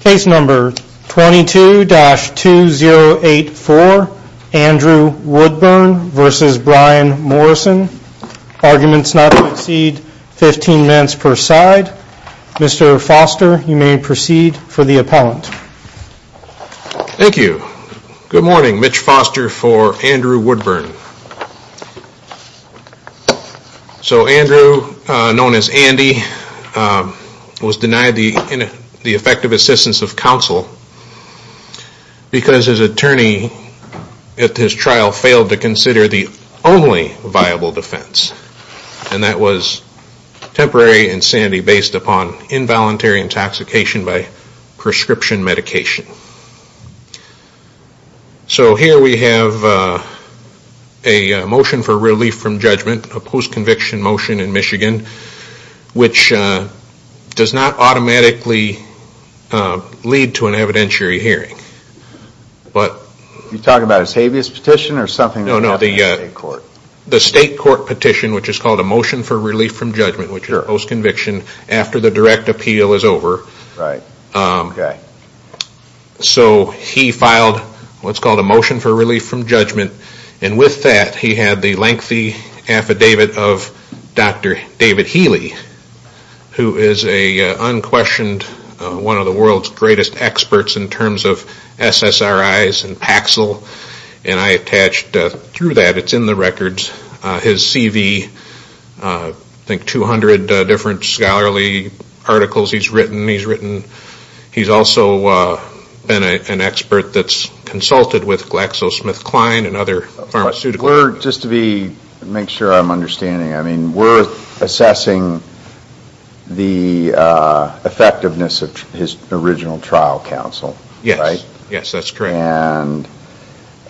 Case number 22-2084, Andrew Woodburn v. Bryan Morrison, arguments not to proceed, 15 minutes per side. Mr. Foster, you may proceed for the appellant. Thank you. Good morning, Mitch Foster for Andrew Woodburn. So Andrew, known as Andy, was denied the effective assistance of counsel because his attorney at his trial failed to consider the only viable defense. And that was temporary insanity based upon involuntary intoxication by prescription medication. So here we have a motion for relief from judgment, a post-conviction motion in Michigan, which does not automatically lead to an evidentiary hearing. You talking about his habeas petition or something? No, no, the state court petition, which is called a motion for relief from judgment, which is a post-conviction after the direct appeal is over. So he filed what's called a motion for relief from judgment, and with that he had the lengthy affidavit of Dr. David Healy, who is an unquestioned, one of the world's greatest experts in terms of SSRIs and Paxil, and I attached through that, it's in the records, his CV, I think 200 different scholarly articles he's written. He's also been an expert that's consulted with GlaxoSmithKline and other pharmaceutical companies. Just to make sure I'm understanding, we're assessing the effectiveness of his original trial counsel, right? Yes, that's correct. And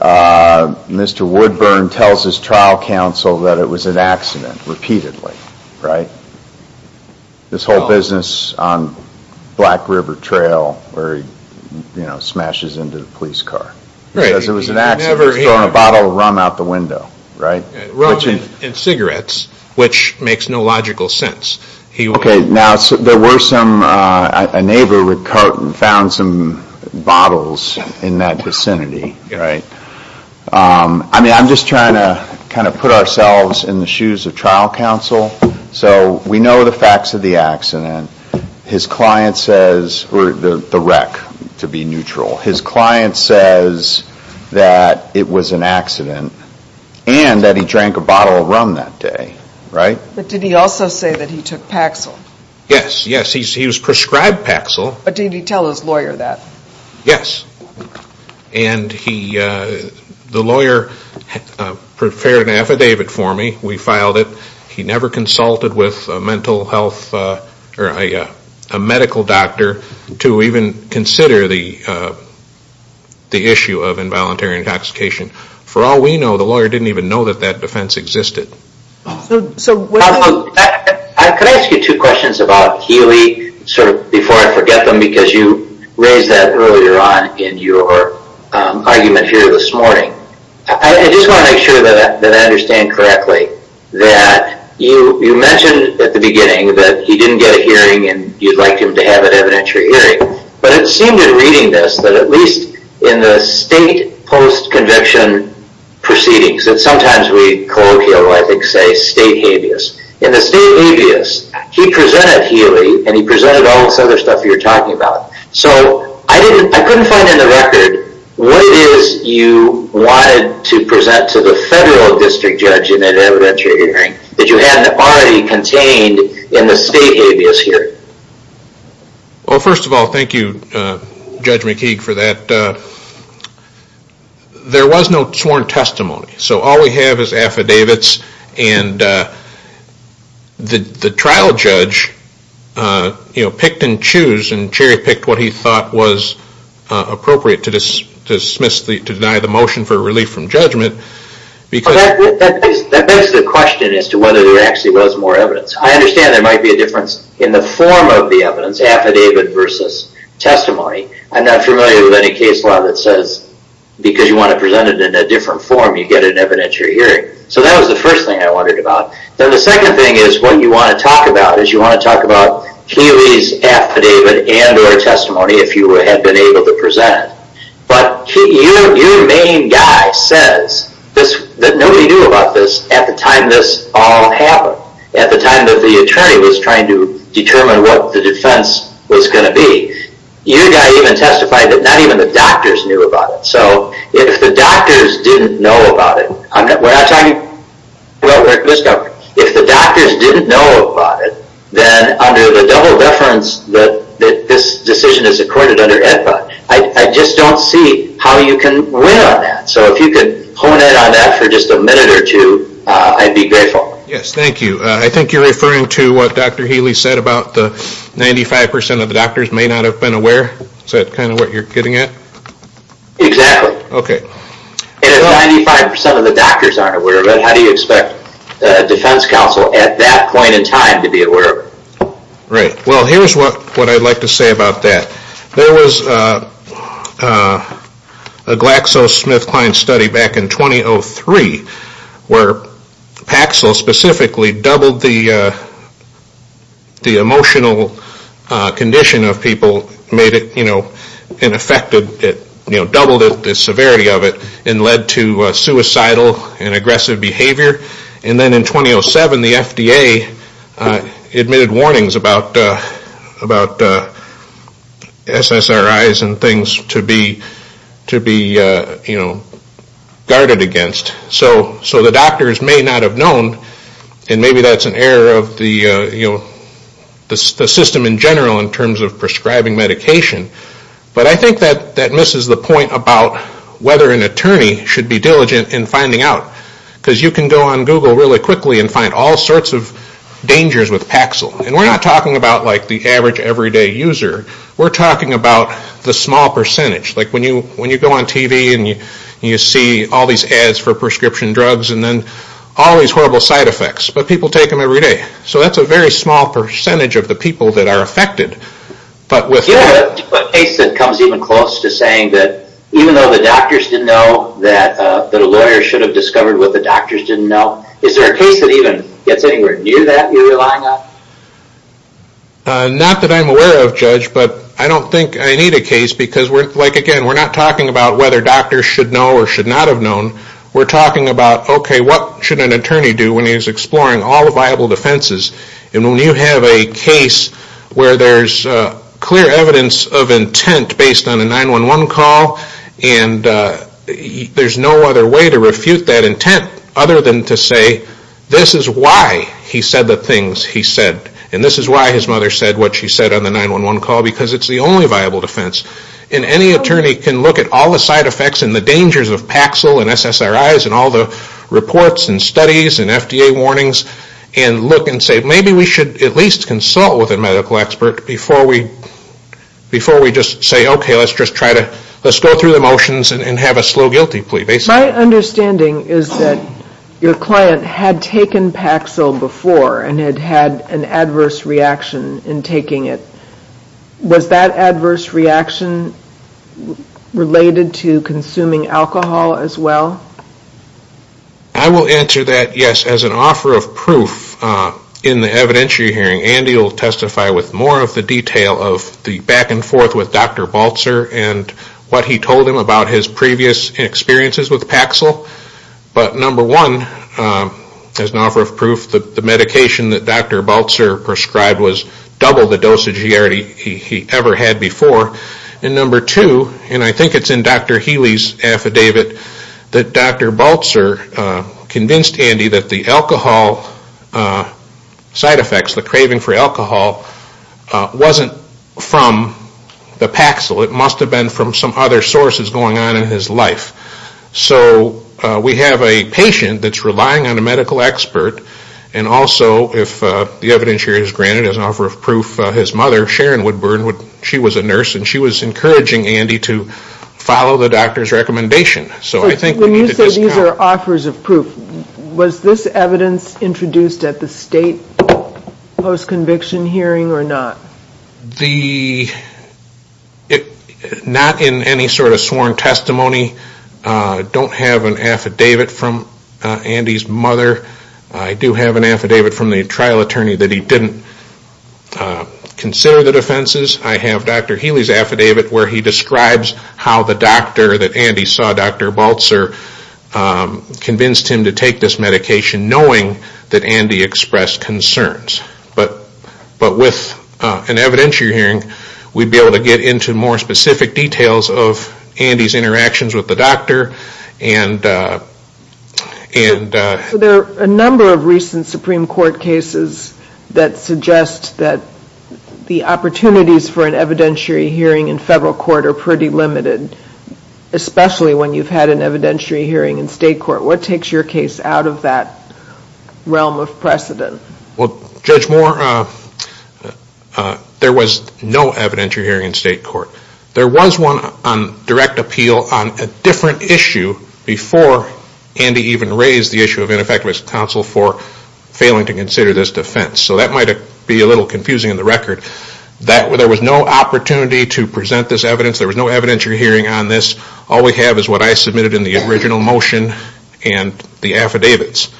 Mr. Woodburn tells his trial counsel that it was an accident, repeatedly, right? This whole business on Black River Trail where he smashes into the police car. He says it was an accident. He's thrown a bottle of rum out the window, right? Rum and cigarettes, which makes no logical sense. Okay, now there were some, a neighbor found some bottles in that vicinity, right? I mean, I'm just trying to kind of put ourselves in the shoes of trial counsel. So we know the facts of the accident. His client says, or the wreck, to be neutral. His client says that it was an accident and that he drank a bottle of rum that day, right? But did he also say that he took Paxil? Yes, yes. He was prescribed Paxil. But did he tell his lawyer that? Yes. And he, the lawyer prepared an affidavit for me. We filed it. He never consulted with a mental health, or a medical doctor to even consider the issue of involuntary intoxication. For all we know, the lawyer didn't even know that that defense existed. Could I ask you two questions about Healy, sort of before I forget them, because you raised that earlier on in your argument here this morning. I just want to make sure that I understand correctly that you mentioned at the beginning that he didn't get a hearing and you'd like him to have an evidentiary hearing. But it seemed in reading this that at least in the state post-conviction proceedings that sometimes we colloquially, I think, say state habeas. In the state habeas, he presented Healy and he presented all this other stuff you're talking about. So I couldn't find in the record what it is you wanted to present to the federal district judge in an evidentiary hearing that you hadn't already contained in the state habeas hearing. Well, first of all, thank you, Judge McKeague, for that. But there was no sworn testimony. So all we have is affidavits and the trial judge picked and chose and cherry-picked what he thought was appropriate to deny the motion for relief from judgment. That begs the question as to whether there actually was more evidence. I understand there might be a difference in the form of the evidence, affidavit versus testimony. I'm not familiar with any case law that says because you want to present it in a different form, you get an evidentiary hearing. So that was the first thing I wondered about. Then the second thing is what you want to talk about is you want to talk about Healy's affidavit and or testimony if you had been able to present it. But your main guy says that nobody knew about this at the time this all happened, at the time that the attorney was trying to determine what the defense was going to be. Your guy even testified that not even the doctors knew about it. So if the doctors didn't know about it, then under the double deference that this decision is accorded under AEDPA, I just don't see how you can win on that. So if you could hone in on that for just a minute or two, I'd be grateful. Yes, thank you. I think you're referring to what Dr. Healy said about the 95% of the doctors may not have been aware. Is that kind of what you're getting at? Exactly. Okay. And if 95% of the doctors aren't aware of it, how do you expect a defense counsel at that point in time to be aware of it? Right. Well, here's what I'd like to say about that. There was a GlaxoSmithKline study back in 2003 where Paxil specifically doubled the emotional condition of people, made it ineffective, doubled the severity of it, and led to suicidal and aggressive behavior. And then in 2007, the FDA admitted warnings about SSRIs and things to be guarded against. So the doctors may not have known, and maybe that's an error of the system in general in terms of prescribing medication. But I think that misses the point about whether an attorney should be diligent in finding out. Because you can go on Google really quickly and find all sorts of dangers with Paxil. And we're not talking about the average everyday user. We're talking about the small percentage. Like when you go on TV and you see all these ads for prescription drugs and then all these horrible side effects. But people take them every day. So that's a very small percentage of the people that are affected. You have a case that comes even close to saying that even though the doctors didn't know, that a lawyer should have discovered what the doctors didn't know. Is there a case that even gets anywhere near that you're relying on? Not that I'm aware of, Judge, but I don't think I need a case. Because again, we're not talking about whether doctors should know or should not have known. We're talking about, okay, what should an attorney do when he's exploring all the viable defenses? And when you have a case where there's clear evidence of intent based on a 911 call, and there's no other way to refute that intent other than to say, this is why he said the things he said. And this is why his mother said what she said on the 911 call. Because it's the only viable defense. And any attorney can look at all the side effects and the dangers of Paxil and SSRIs and all the reports and studies and FDA warnings and look and say, maybe we should at least consult with a medical expert before we just say, okay, let's go through the motions and have a slow guilty plea. My understanding is that your client had taken Paxil before and had had an adverse reaction in taking it. Was that adverse reaction related to consuming alcohol as well? I will answer that, yes, as an offer of proof in the evidentiary hearing. Andy will testify with more of the detail of the back and forth with Dr. Baltzer and what he told him about his previous experiences with Paxil. But number one, as an offer of proof, the medication that Dr. Baltzer prescribed was double the dosage he ever had before. And number two, and I think it's in Dr. Healy's affidavit, that Dr. Baltzer convinced Andy that the alcohol side effects, the craving for alcohol, wasn't from the Paxil. It must have been from some other sources going on in his life. So we have a patient that's relying on a medical expert and also if the evidentiary is granted as an offer of proof, his mother, Sharon Woodburn, she was a nurse, and she was encouraging Andy to follow the doctor's recommendation. So when you say these are offers of proof, was this evidence introduced at the state post-conviction hearing or not? Not in any sort of sworn testimony. I don't have an affidavit from Andy's mother. I do have an affidavit from the trial attorney that he didn't consider the defenses. I have Dr. Healy's affidavit where he describes how the doctor that Andy saw, Dr. Baltzer, convinced him to take this medication knowing that Andy expressed concerns. But with an evidentiary hearing, we'd be able to get into more specific details of Andy's interactions with the doctor. There are a number of recent Supreme Court cases that suggest that the opportunities for an evidentiary hearing in federal court are pretty limited, especially when you've had an evidentiary hearing in state court. What takes your case out of that realm of precedent? Judge Moore, there was no evidentiary hearing in state court. There was one on direct appeal on a different issue before Andy even raised the issue of ineffective counsel for failing to consider this defense. So that might be a little confusing in the record. There was no opportunity to present this evidence. There was no evidentiary hearing on this. All we have is what I submitted in the original motion and the affidavits.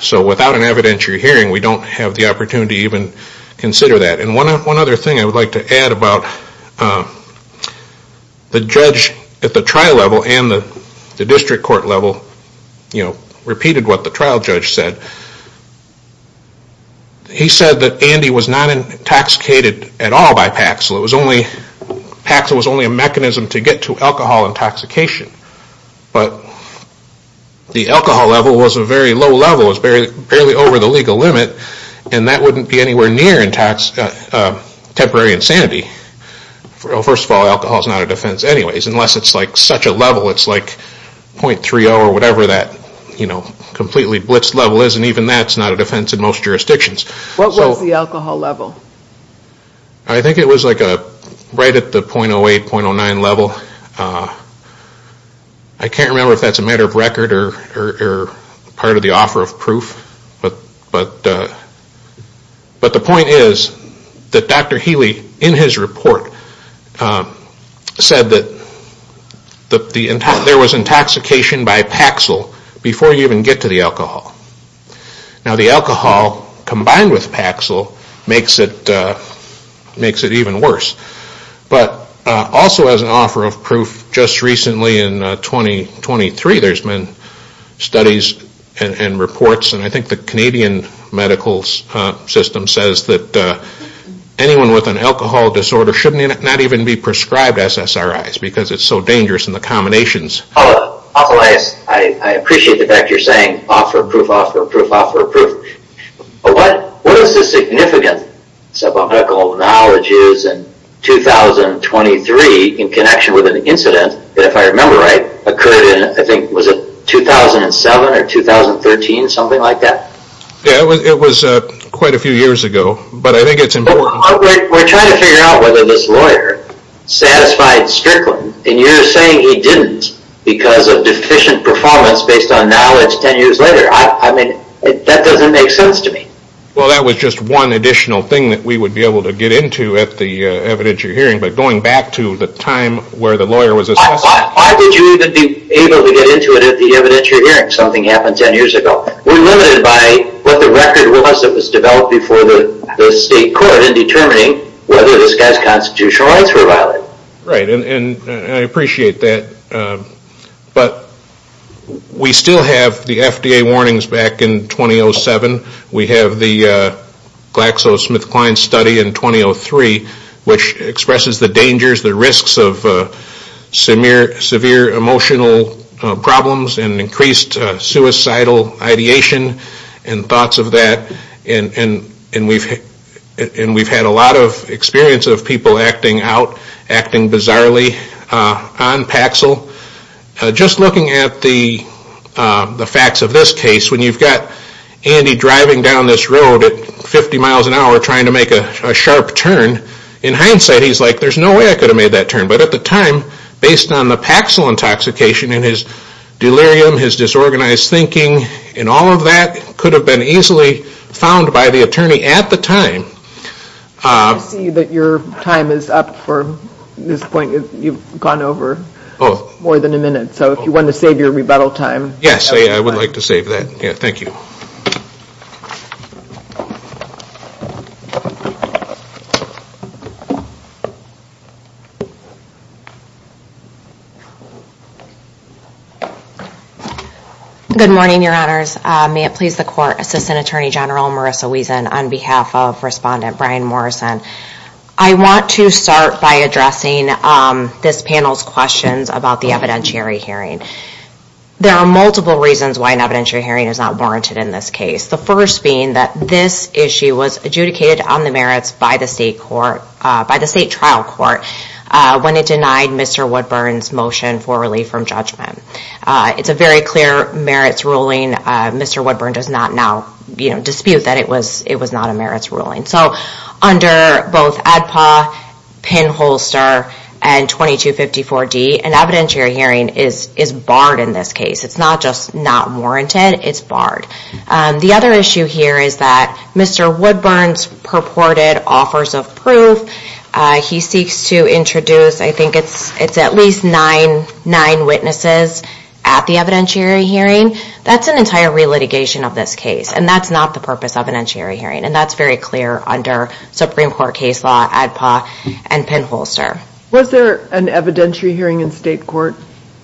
So without an evidentiary hearing, we don't have the opportunity to even consider that. And one other thing I would like to add about the judge at the trial level and the district court level repeated what the trial judge said. He said that Andy was not intoxicated at all by Paxil. Paxil was only a mechanism to get to alcohol intoxication. But the alcohol level was a very low level. It was barely over the legal limit and that wouldn't be anywhere near temporary insanity. First of all, alcohol is not a defense anyways unless it's like such a level. It's like .30 or whatever that completely blitzed level is and even that's not a defense in most jurisdictions. What was the alcohol level? I think it was like right at the .08, .09 level. I can't remember if that's a matter of record or part of the offer of proof. But the point is that Dr. Healy in his report said that there was intoxication by Paxil before you even get to the alcohol. Now the alcohol combined with Paxil makes it even worse. But also as an offer of proof, just recently in 2023 there's been studies and reports and I think the Canadian medical system says that anyone with an alcohol disorder should not even be prescribed SSRIs because it's so dangerous in the combinations. I appreciate the fact that you're saying offer of proof, offer of proof, offer of proof. But what is the significance of alcohol knowledges in 2023 in connection with an incident that if I remember right occurred in I think was it 2007 or 2013, something like that? Yeah, it was quite a few years ago but I think it's important. We're trying to figure out whether this lawyer satisfied Strickland and you're saying he didn't because of deficient performance based on knowledge 10 years later. I mean that doesn't make sense to me. Well that was just one additional thing that we would be able to get into at the evidentiary hearing but going back to the time where the lawyer was assessed. Why would you even be able to get into it at the evidentiary hearing? Something happened 10 years ago. We're limited by what the record was that was developed before the state court in determining whether this guy's constitutional rights were violated. Right and I appreciate that but we still have the FDA warnings back in 2007. We have the GlaxoSmithKline study in 2003 which expresses the dangers, the risks of severe emotional problems and increased suicidal ideation and thoughts of that and we've had a lot of experience of people acting out, acting bizarrely on Paxil. Just looking at the facts of this case, when you've got Andy driving down this road at 50 miles an hour trying to make a sharp turn, in hindsight he's like there's no way I could have made that turn but at the time based on the Paxil intoxication and his delirium, his disorganized thinking and all of that could have been easily found by the attorney at the time. I see that your time is up for this point. You've gone over more than a minute. So if you want to save your rebuttal time. Yes, I would like to save that. Thank you. Good morning, your honors. May it please the court. Assistant Attorney General Marissa Wiesen on behalf of Respondent Brian Morrison. I want to start by addressing this panel's questions about the evidentiary hearing. There are multiple reasons why an evidentiary hearing is not warranted in this case. The first being that this issue was adjudicated on the merits by the state trial court when it denied Mr. Woodburn's motion for relief from judgment. It's a very clear merits ruling. Mr. Woodburn does not now dispute that it was not a merits ruling. So under both ADPA, Penholster, and 2254D, an evidentiary hearing is barred in this case. It's not just not warranted, it's barred. The other issue here is that Mr. Woodburn's purported offers of proof, he seeks to introduce, I think it's at least nine witnesses at the evidentiary hearing. That's an entire re-litigation of this case, and that's not the purpose of an evidentiary hearing. And that's very clear under Supreme Court case law, ADPA, and Penholster. Was there an evidentiary hearing in state court?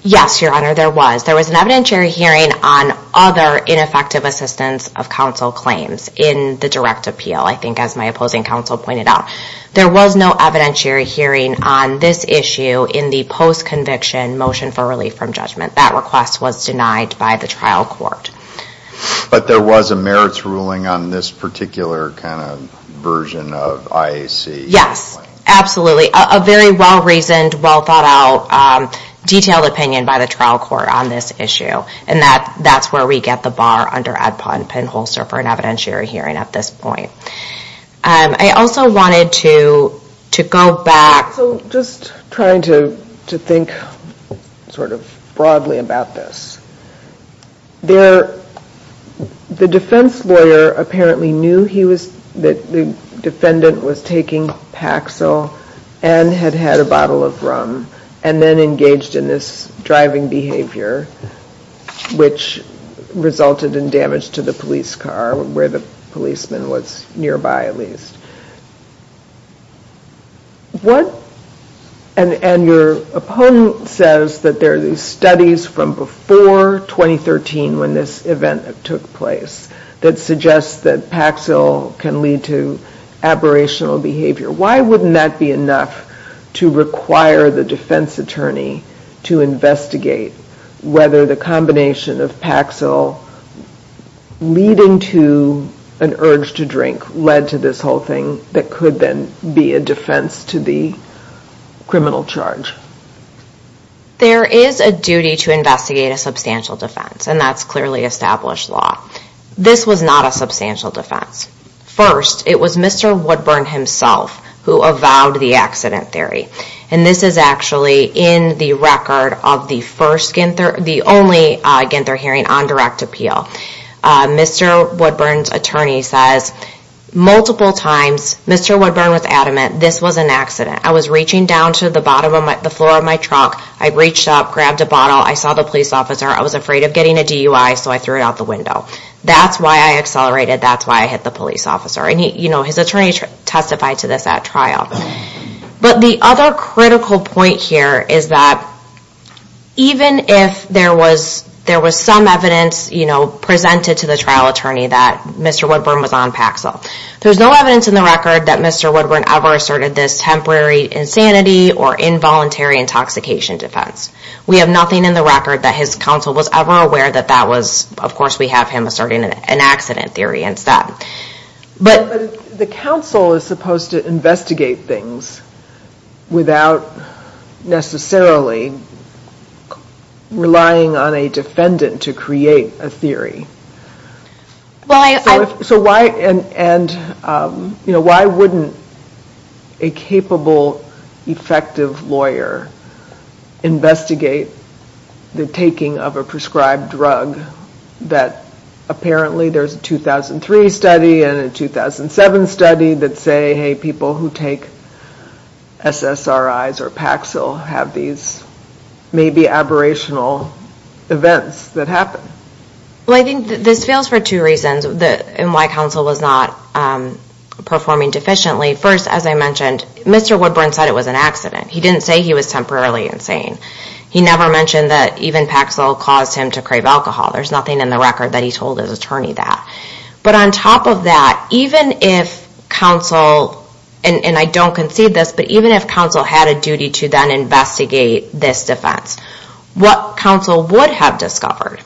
Yes, Your Honor, there was. There was an evidentiary hearing on other ineffective assistance of counsel claims in the direct appeal, I think as my opposing counsel pointed out. There was no evidentiary hearing on this issue in the post-conviction motion for relief from judgment. That request was denied by the trial court. But there was a merits ruling on this particular kind of version of IAC? Yes, absolutely. A very well-reasoned, well-thought-out, detailed opinion by the trial court on this issue. And that's where we get the bar under ADPA and Penholster for an evidentiary hearing at this point. I also wanted to go back. So just trying to think sort of broadly about this. The defense lawyer apparently knew that the defendant was taking Paxil and had had a bottle of rum and then engaged in this driving behavior, which resulted in damage to the police car, where the policeman was nearby at least. And your opponent says that there are these studies from before 2013 when this event took place that suggest that Paxil can lead to aberrational behavior. Why wouldn't that be enough to require the defense attorney to investigate whether the combination of Paxil leading to an urge to drink led to this whole thing that could then be a defense to the criminal charge? There is a duty to investigate a substantial defense, and that's clearly established law. This was not a substantial defense. First, it was Mr. Woodburn himself who avowed the accident theory. And this is actually in the record of the only Ginther hearing on direct appeal. Mr. Woodburn's attorney says multiple times, Mr. Woodburn was adamant this was an accident. I was reaching down to the floor of my truck. I reached up, grabbed a bottle. I saw the police officer. I was afraid of getting a DUI, so I threw it out the window. That's why I accelerated. That's why I hit the police officer. And his attorney testified to this at trial. But the other critical point here is that even if there was some evidence presented to the trial attorney that Mr. Woodburn was on Paxil, there's no evidence in the record that Mr. Woodburn ever asserted this temporary insanity or involuntary intoxication defense. We have nothing in the record that his counsel was ever aware that that was, of course, we have him asserting an accident theory instead. But the counsel is supposed to investigate things without necessarily relying on a defendant to create a theory. So why wouldn't a capable, effective lawyer investigate the taking of a prescribed drug that apparently there's a 2003 study and a 2007 study that say, hey, people who take SSRIs or Paxil have these maybe aberrational events that happen? Well, I think this fails for two reasons and why counsel was not performing deficiently. First, as I mentioned, Mr. Woodburn said it was an accident. He didn't say he was temporarily insane. He never mentioned that even Paxil caused him to crave alcohol. There's nothing in the record that he told his attorney that. But on top of that, even if counsel, and I don't concede this, but even if counsel had a duty to then investigate this defense, what counsel would have discovered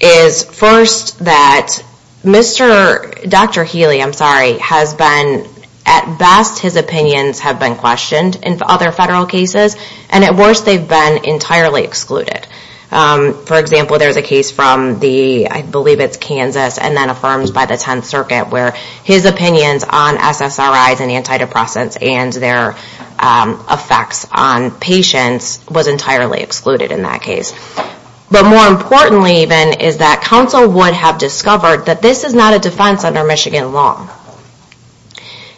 is first that Dr. Healy, I'm sorry, has been at best his opinions have been questioned in other federal cases and at worst they've been entirely excluded. For example, there's a case from the, I believe it's Kansas, and then affirms by the 10th Circuit where his opinions on SSRIs and antidepressants and their effects on patients was entirely excluded in that case. But more importantly even is that counsel would have discovered that this is not a defense under Michigan law.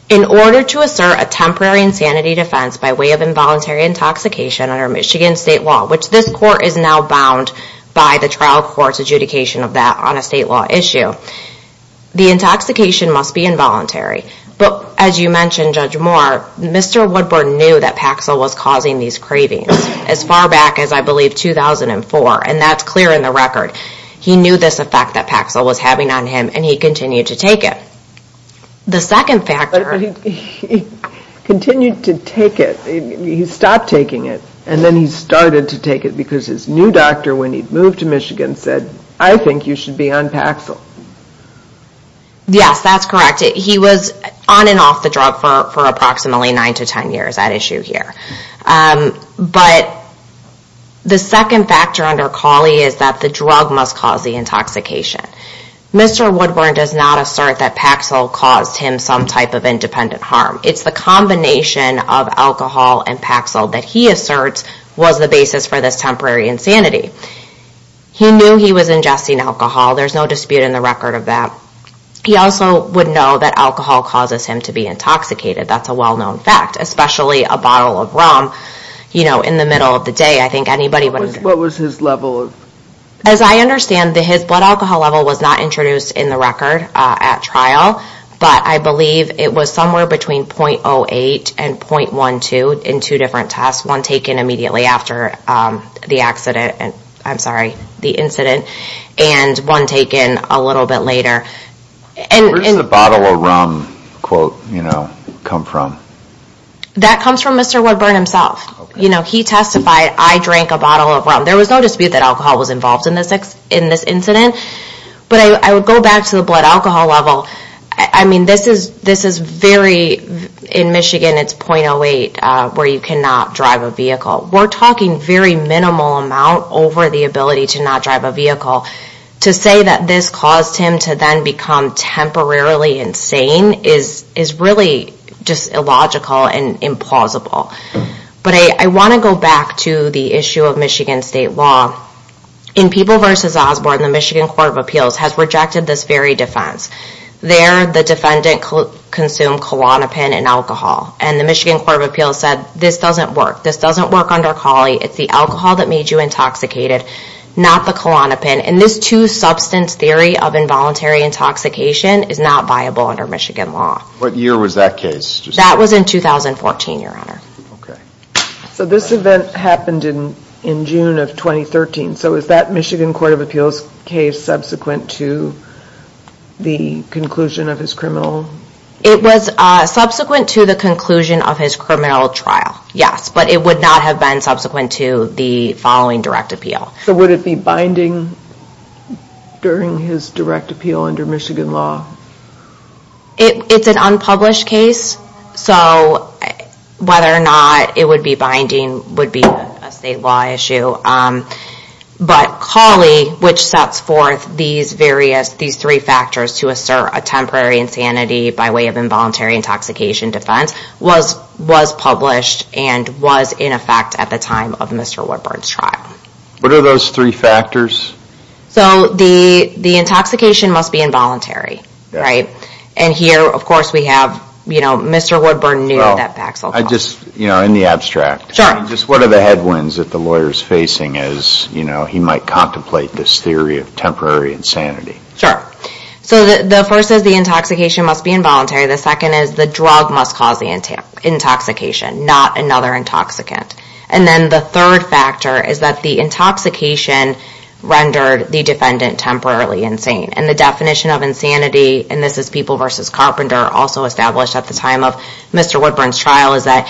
In order to assert a temporary insanity defense by way of involuntary intoxication under Michigan state law, which this court is now bound by the trial court's adjudication of that on a state law issue, the intoxication must be involuntary. But as you mentioned, Judge Moore, Mr. Woodburn knew that Paxil was causing these cravings as far back as I believe 2004, and that's clear in the record. He knew this effect that Paxil was having on him, and he continued to take it. The second factor... He continued to take it. He stopped taking it, and then he started to take it because his new doctor when he moved to Michigan said, I think you should be on Paxil. Yes, that's correct. He was on and off the drug for approximately 9 to 10 years at issue here. But the second factor under Cawley is that the drug must cause the intoxication. Mr. Woodburn does not assert that Paxil caused him some type of independent harm. It's the combination of alcohol and Paxil that he asserts was the basis for this temporary insanity. He knew he was ingesting alcohol. There's no dispute in the record of that. He also would know that alcohol causes him to be intoxicated. That's a well-known fact, especially a bottle of rum in the middle of the day. I think anybody would... What was his level of... As I understand, his blood alcohol level was not introduced in the record at trial, but I believe it was somewhere between .08 and .12 in two different tests, one taken immediately after the accident, I'm sorry, the incident, and one taken a little bit later. Where does the bottle of rum quote come from? That comes from Mr. Woodburn himself. He testified, I drank a bottle of rum. There was no dispute that alcohol was involved in this incident. But I would go back to the blood alcohol level. I mean, this is very... In Michigan, it's .08 where you cannot drive a vehicle. We're talking very minimal amount over the ability to not drive a vehicle. To say that this caused him to then become temporarily insane is really just illogical and implausible. But I want to go back to the issue of Michigan state law. In People v. Osborne, the Michigan Court of Appeals has rejected this very defense. There, the defendant consumed Klonopin and alcohol, and the Michigan Court of Appeals said, this doesn't work. This doesn't work under Cawley. It's the alcohol that made you intoxicated, not the Klonopin. And this two-substance theory of involuntary intoxication is not viable under Michigan law. What year was that case? That was in 2014, Your Honor. So this event happened in June of 2013. So is that Michigan Court of Appeals case subsequent to the conclusion of his criminal... It was subsequent to the conclusion of his criminal trial, yes. But it would not have been subsequent to the following direct appeal. So would it be binding during his direct appeal under Michigan law? It's an unpublished case. So whether or not it would be binding would be a statewide issue. But Cawley, which sets forth these various, these three factors to assert a temporary insanity by way of involuntary intoxication defense, was published and was in effect at the time of Mr. Woodburn's trial. What are those three factors? So the intoxication must be involuntary, right? And here, of course, we have Mr. Woodburn knew that back so far. I just, in the abstract, just what are the headwinds that the lawyer's facing as he might contemplate this theory of temporary insanity? Sure. So the first is the intoxication must be involuntary. The second is the drug must cause the intoxication, not another intoxicant. And then the third factor is that the intoxication rendered the defendant temporarily insane. And the definition of insanity, and this is People v. Carpenter also established at the time of Mr. Woodburn's trial, is that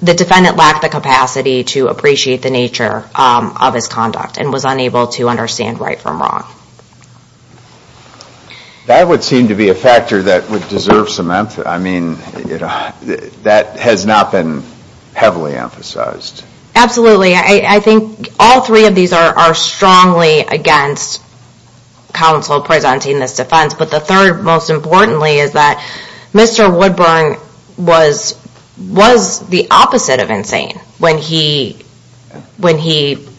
the defendant lacked the capacity to appreciate the nature of his conduct and was unable to understand right from wrong. That would seem to be a factor that would deserve some emphasis. That has not been heavily emphasized. I think all three of these are strongly against counsel presenting this defense. But the third, most importantly, is that Mr. Woodburn was the opposite of insane when he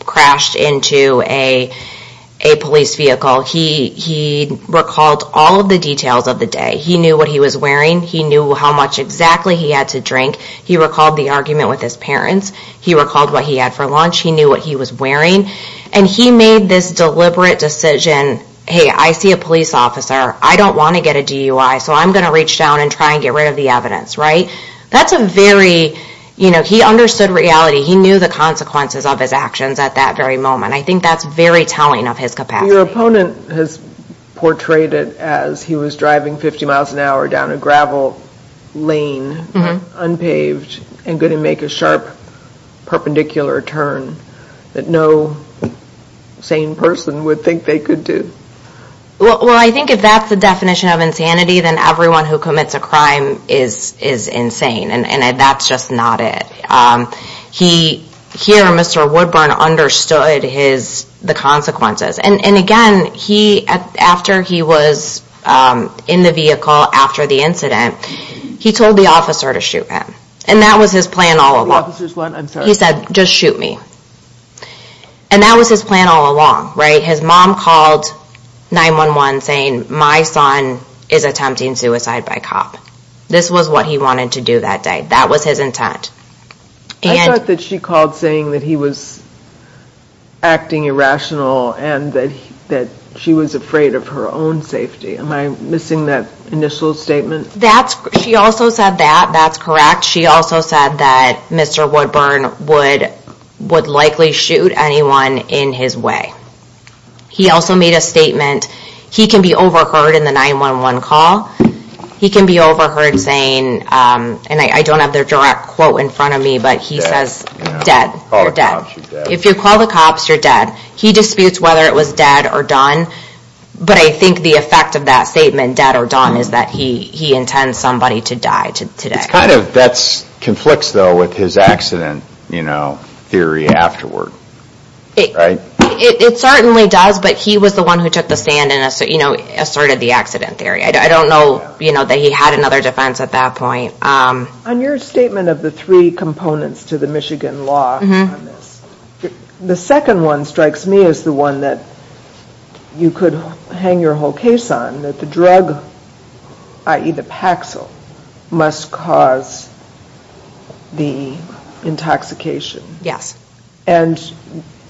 crashed into a police vehicle. He recalled all of the details of the day. He knew what he was wearing. He knew how much exactly he had to drink. He recalled the argument with his parents. He recalled what he had for lunch. He knew what he was wearing. And he made this deliberate decision, hey, I see a police officer. I don't want to get a DUI, so I'm going to reach down and try and get rid of the evidence, right? That's a very, you know, he understood reality. He knew the consequences of his actions at that very moment. I think that's very telling of his capacity. Your opponent has portrayed it as he was driving 50 miles an hour down a gravel lane, unpaved, and going to make a sharp perpendicular turn that no sane person would think they could do. Well, I think if that's the definition of insanity, then everyone who commits a crime is insane. And that's just not it. He, here, Mr. Woodburn understood the consequences. And again, after he was in the vehicle after the incident, he told the officer to shoot him. And that was his plan all along. He said, just shoot me. And that was his plan all along, right? His mom called 911 saying, my son is attempting suicide by cop. This was what he wanted to do that day. That was his intent. I thought that she called saying that he was acting irrational and that she was afraid of her own safety. Am I missing that initial statement? She also said that. That's correct. She also said that Mr. Woodburn would likely shoot anyone in his way. He also made a statement. He can be overheard in the 911 call. He can be overheard saying, and I don't have their direct quote in front of me, but he says, dead. If you call the cops, you're dead. He disputes whether it was dead or done, but I think the effect of that statement, dead or done, is that he intends somebody to die today. That conflicts, though, with his accident theory afterward, right? It certainly does, but he was the one who took the stand and asserted the accident theory. I don't know that he had another defense at that point. On your statement of the three components to the Michigan law on this, the second one strikes me as the one that you could hang your whole case on, that the drug, i.e. the Paxil, must cause the intoxication. Yes. And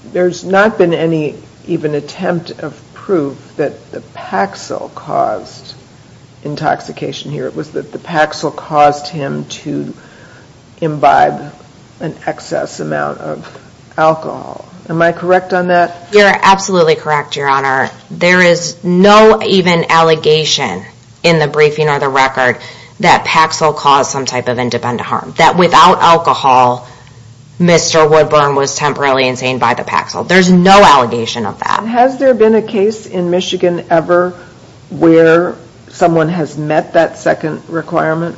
there's not been any even attempt of proof that the Paxil caused intoxication here. It was that the Paxil caused him to imbibe an excess amount of alcohol. Am I correct on that? You're absolutely correct, Your Honor. There is no even allegation in the briefing or the record that Paxil caused some type of independent harm, that without alcohol, Mr. Woodburn was temporarily insane by the Paxil. There's no allegation of that. Has there been a case in Michigan ever where someone has met that second requirement?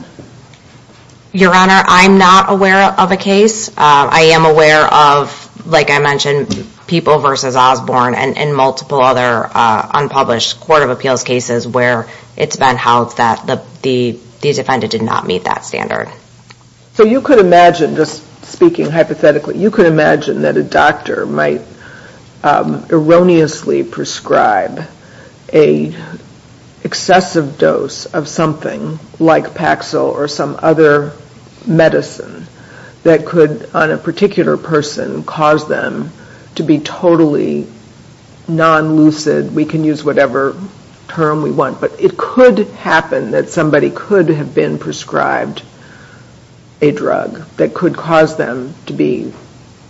Your Honor, I'm not aware of a case. I am aware of, like I mentioned, People v. Osborne and multiple other unpublished court of appeals cases where it's been held that the defendant did not meet that standard. So you could imagine, just speaking hypothetically, you could imagine that a doctor might erroneously prescribe an excessive dose of something like Paxil or some other medicine that could, on a particular person, cause them to be totally non-lucid. We can use whatever term we want, but it could happen that somebody could have been prescribed a drug that could cause them to be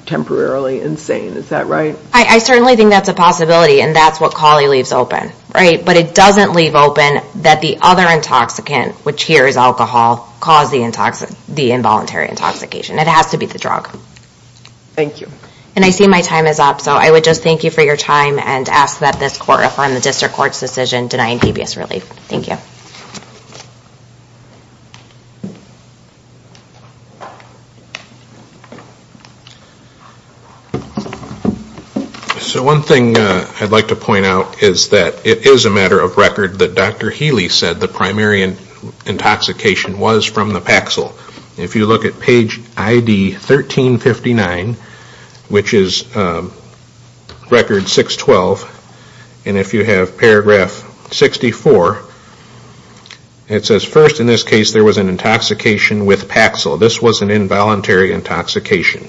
temporarily insane. Is that right? I certainly think that's a possibility, and that's what Cawley leaves open. But it doesn't leave open that the other intoxicant, which here is alcohol, caused the involuntary intoxication. It has to be the drug. Thank you. And I see my time is up, so I would just thank you for your time and ask that this Court affirm the District Court's decision denying PBS relief. Thank you. So one thing I'd like to point out is that it is a matter of record that Dr. Healy said the primary intoxication was from the Paxil. If you look at page ID 1359, which is record 612, and if you have paragraph 64, it says, First, in this case, there was an intoxication with Paxil. This was an involuntary intoxication.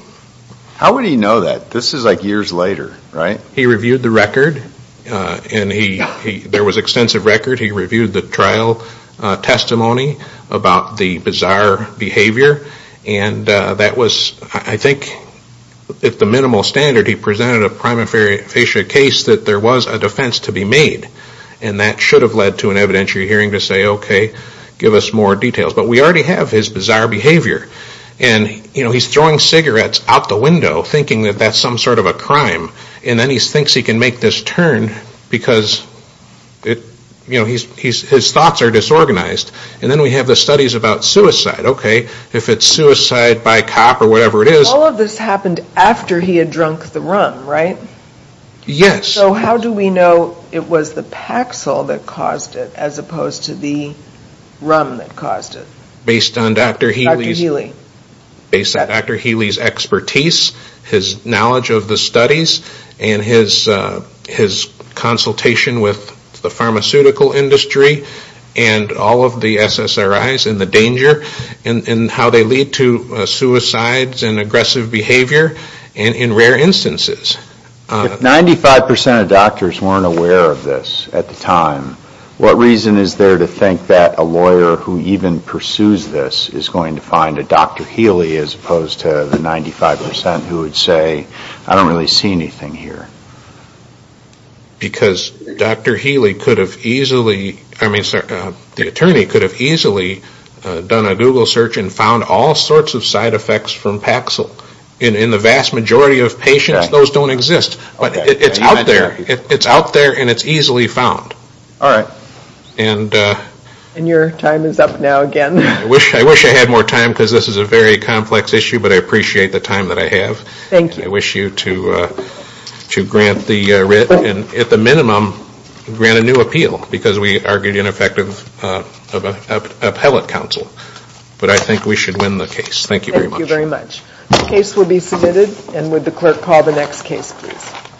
How would he know that? This is like years later, right? He reviewed the record, and there was extensive record. He reviewed the trial testimony about the bizarre behavior, and that was, I think, at the minimal standard, he presented a prima facie case that there was a defense to be made, and that should have led to an evidentiary hearing to say, Okay, give us more details. But we already have his bizarre behavior, and he's throwing cigarettes out the window, thinking that that's some sort of a crime, and then he thinks he can make this turn because his thoughts are disorganized. And then we have the studies about suicide. Okay, if it's suicide by cop or whatever it is. All of this happened after he had drunk the rum, right? Yes. So how do we know it was the Paxil that caused it as opposed to the rum that caused it? Based on Dr. Healy's expertise, his knowledge of the studies, and his consultation with the pharmaceutical industry, and all of the SSRIs and the danger, and how they lead to suicides and aggressive behavior in rare instances. If 95% of doctors weren't aware of this at the time, what reason is there to think that a lawyer who even pursues this is going to find a Dr. Healy as opposed to the 95% who would say, I don't really see anything here? Because Dr. Healy could have easily, I mean, the attorney could have easily done a Google search and found all sorts of side effects from Paxil. In the vast majority of patients, those don't exist, but it's out there and it's easily found. All right. And your time is up now again. I wish I had more time because this is a very complex issue, but I appreciate the time that I have. Thank you. I wish you to grant the writ and at the minimum grant a new appeal because we argued ineffective appellate counsel. But I think we should win the case. Thank you very much. Thank you very much. The case will be submitted. And would the clerk call the next case, please?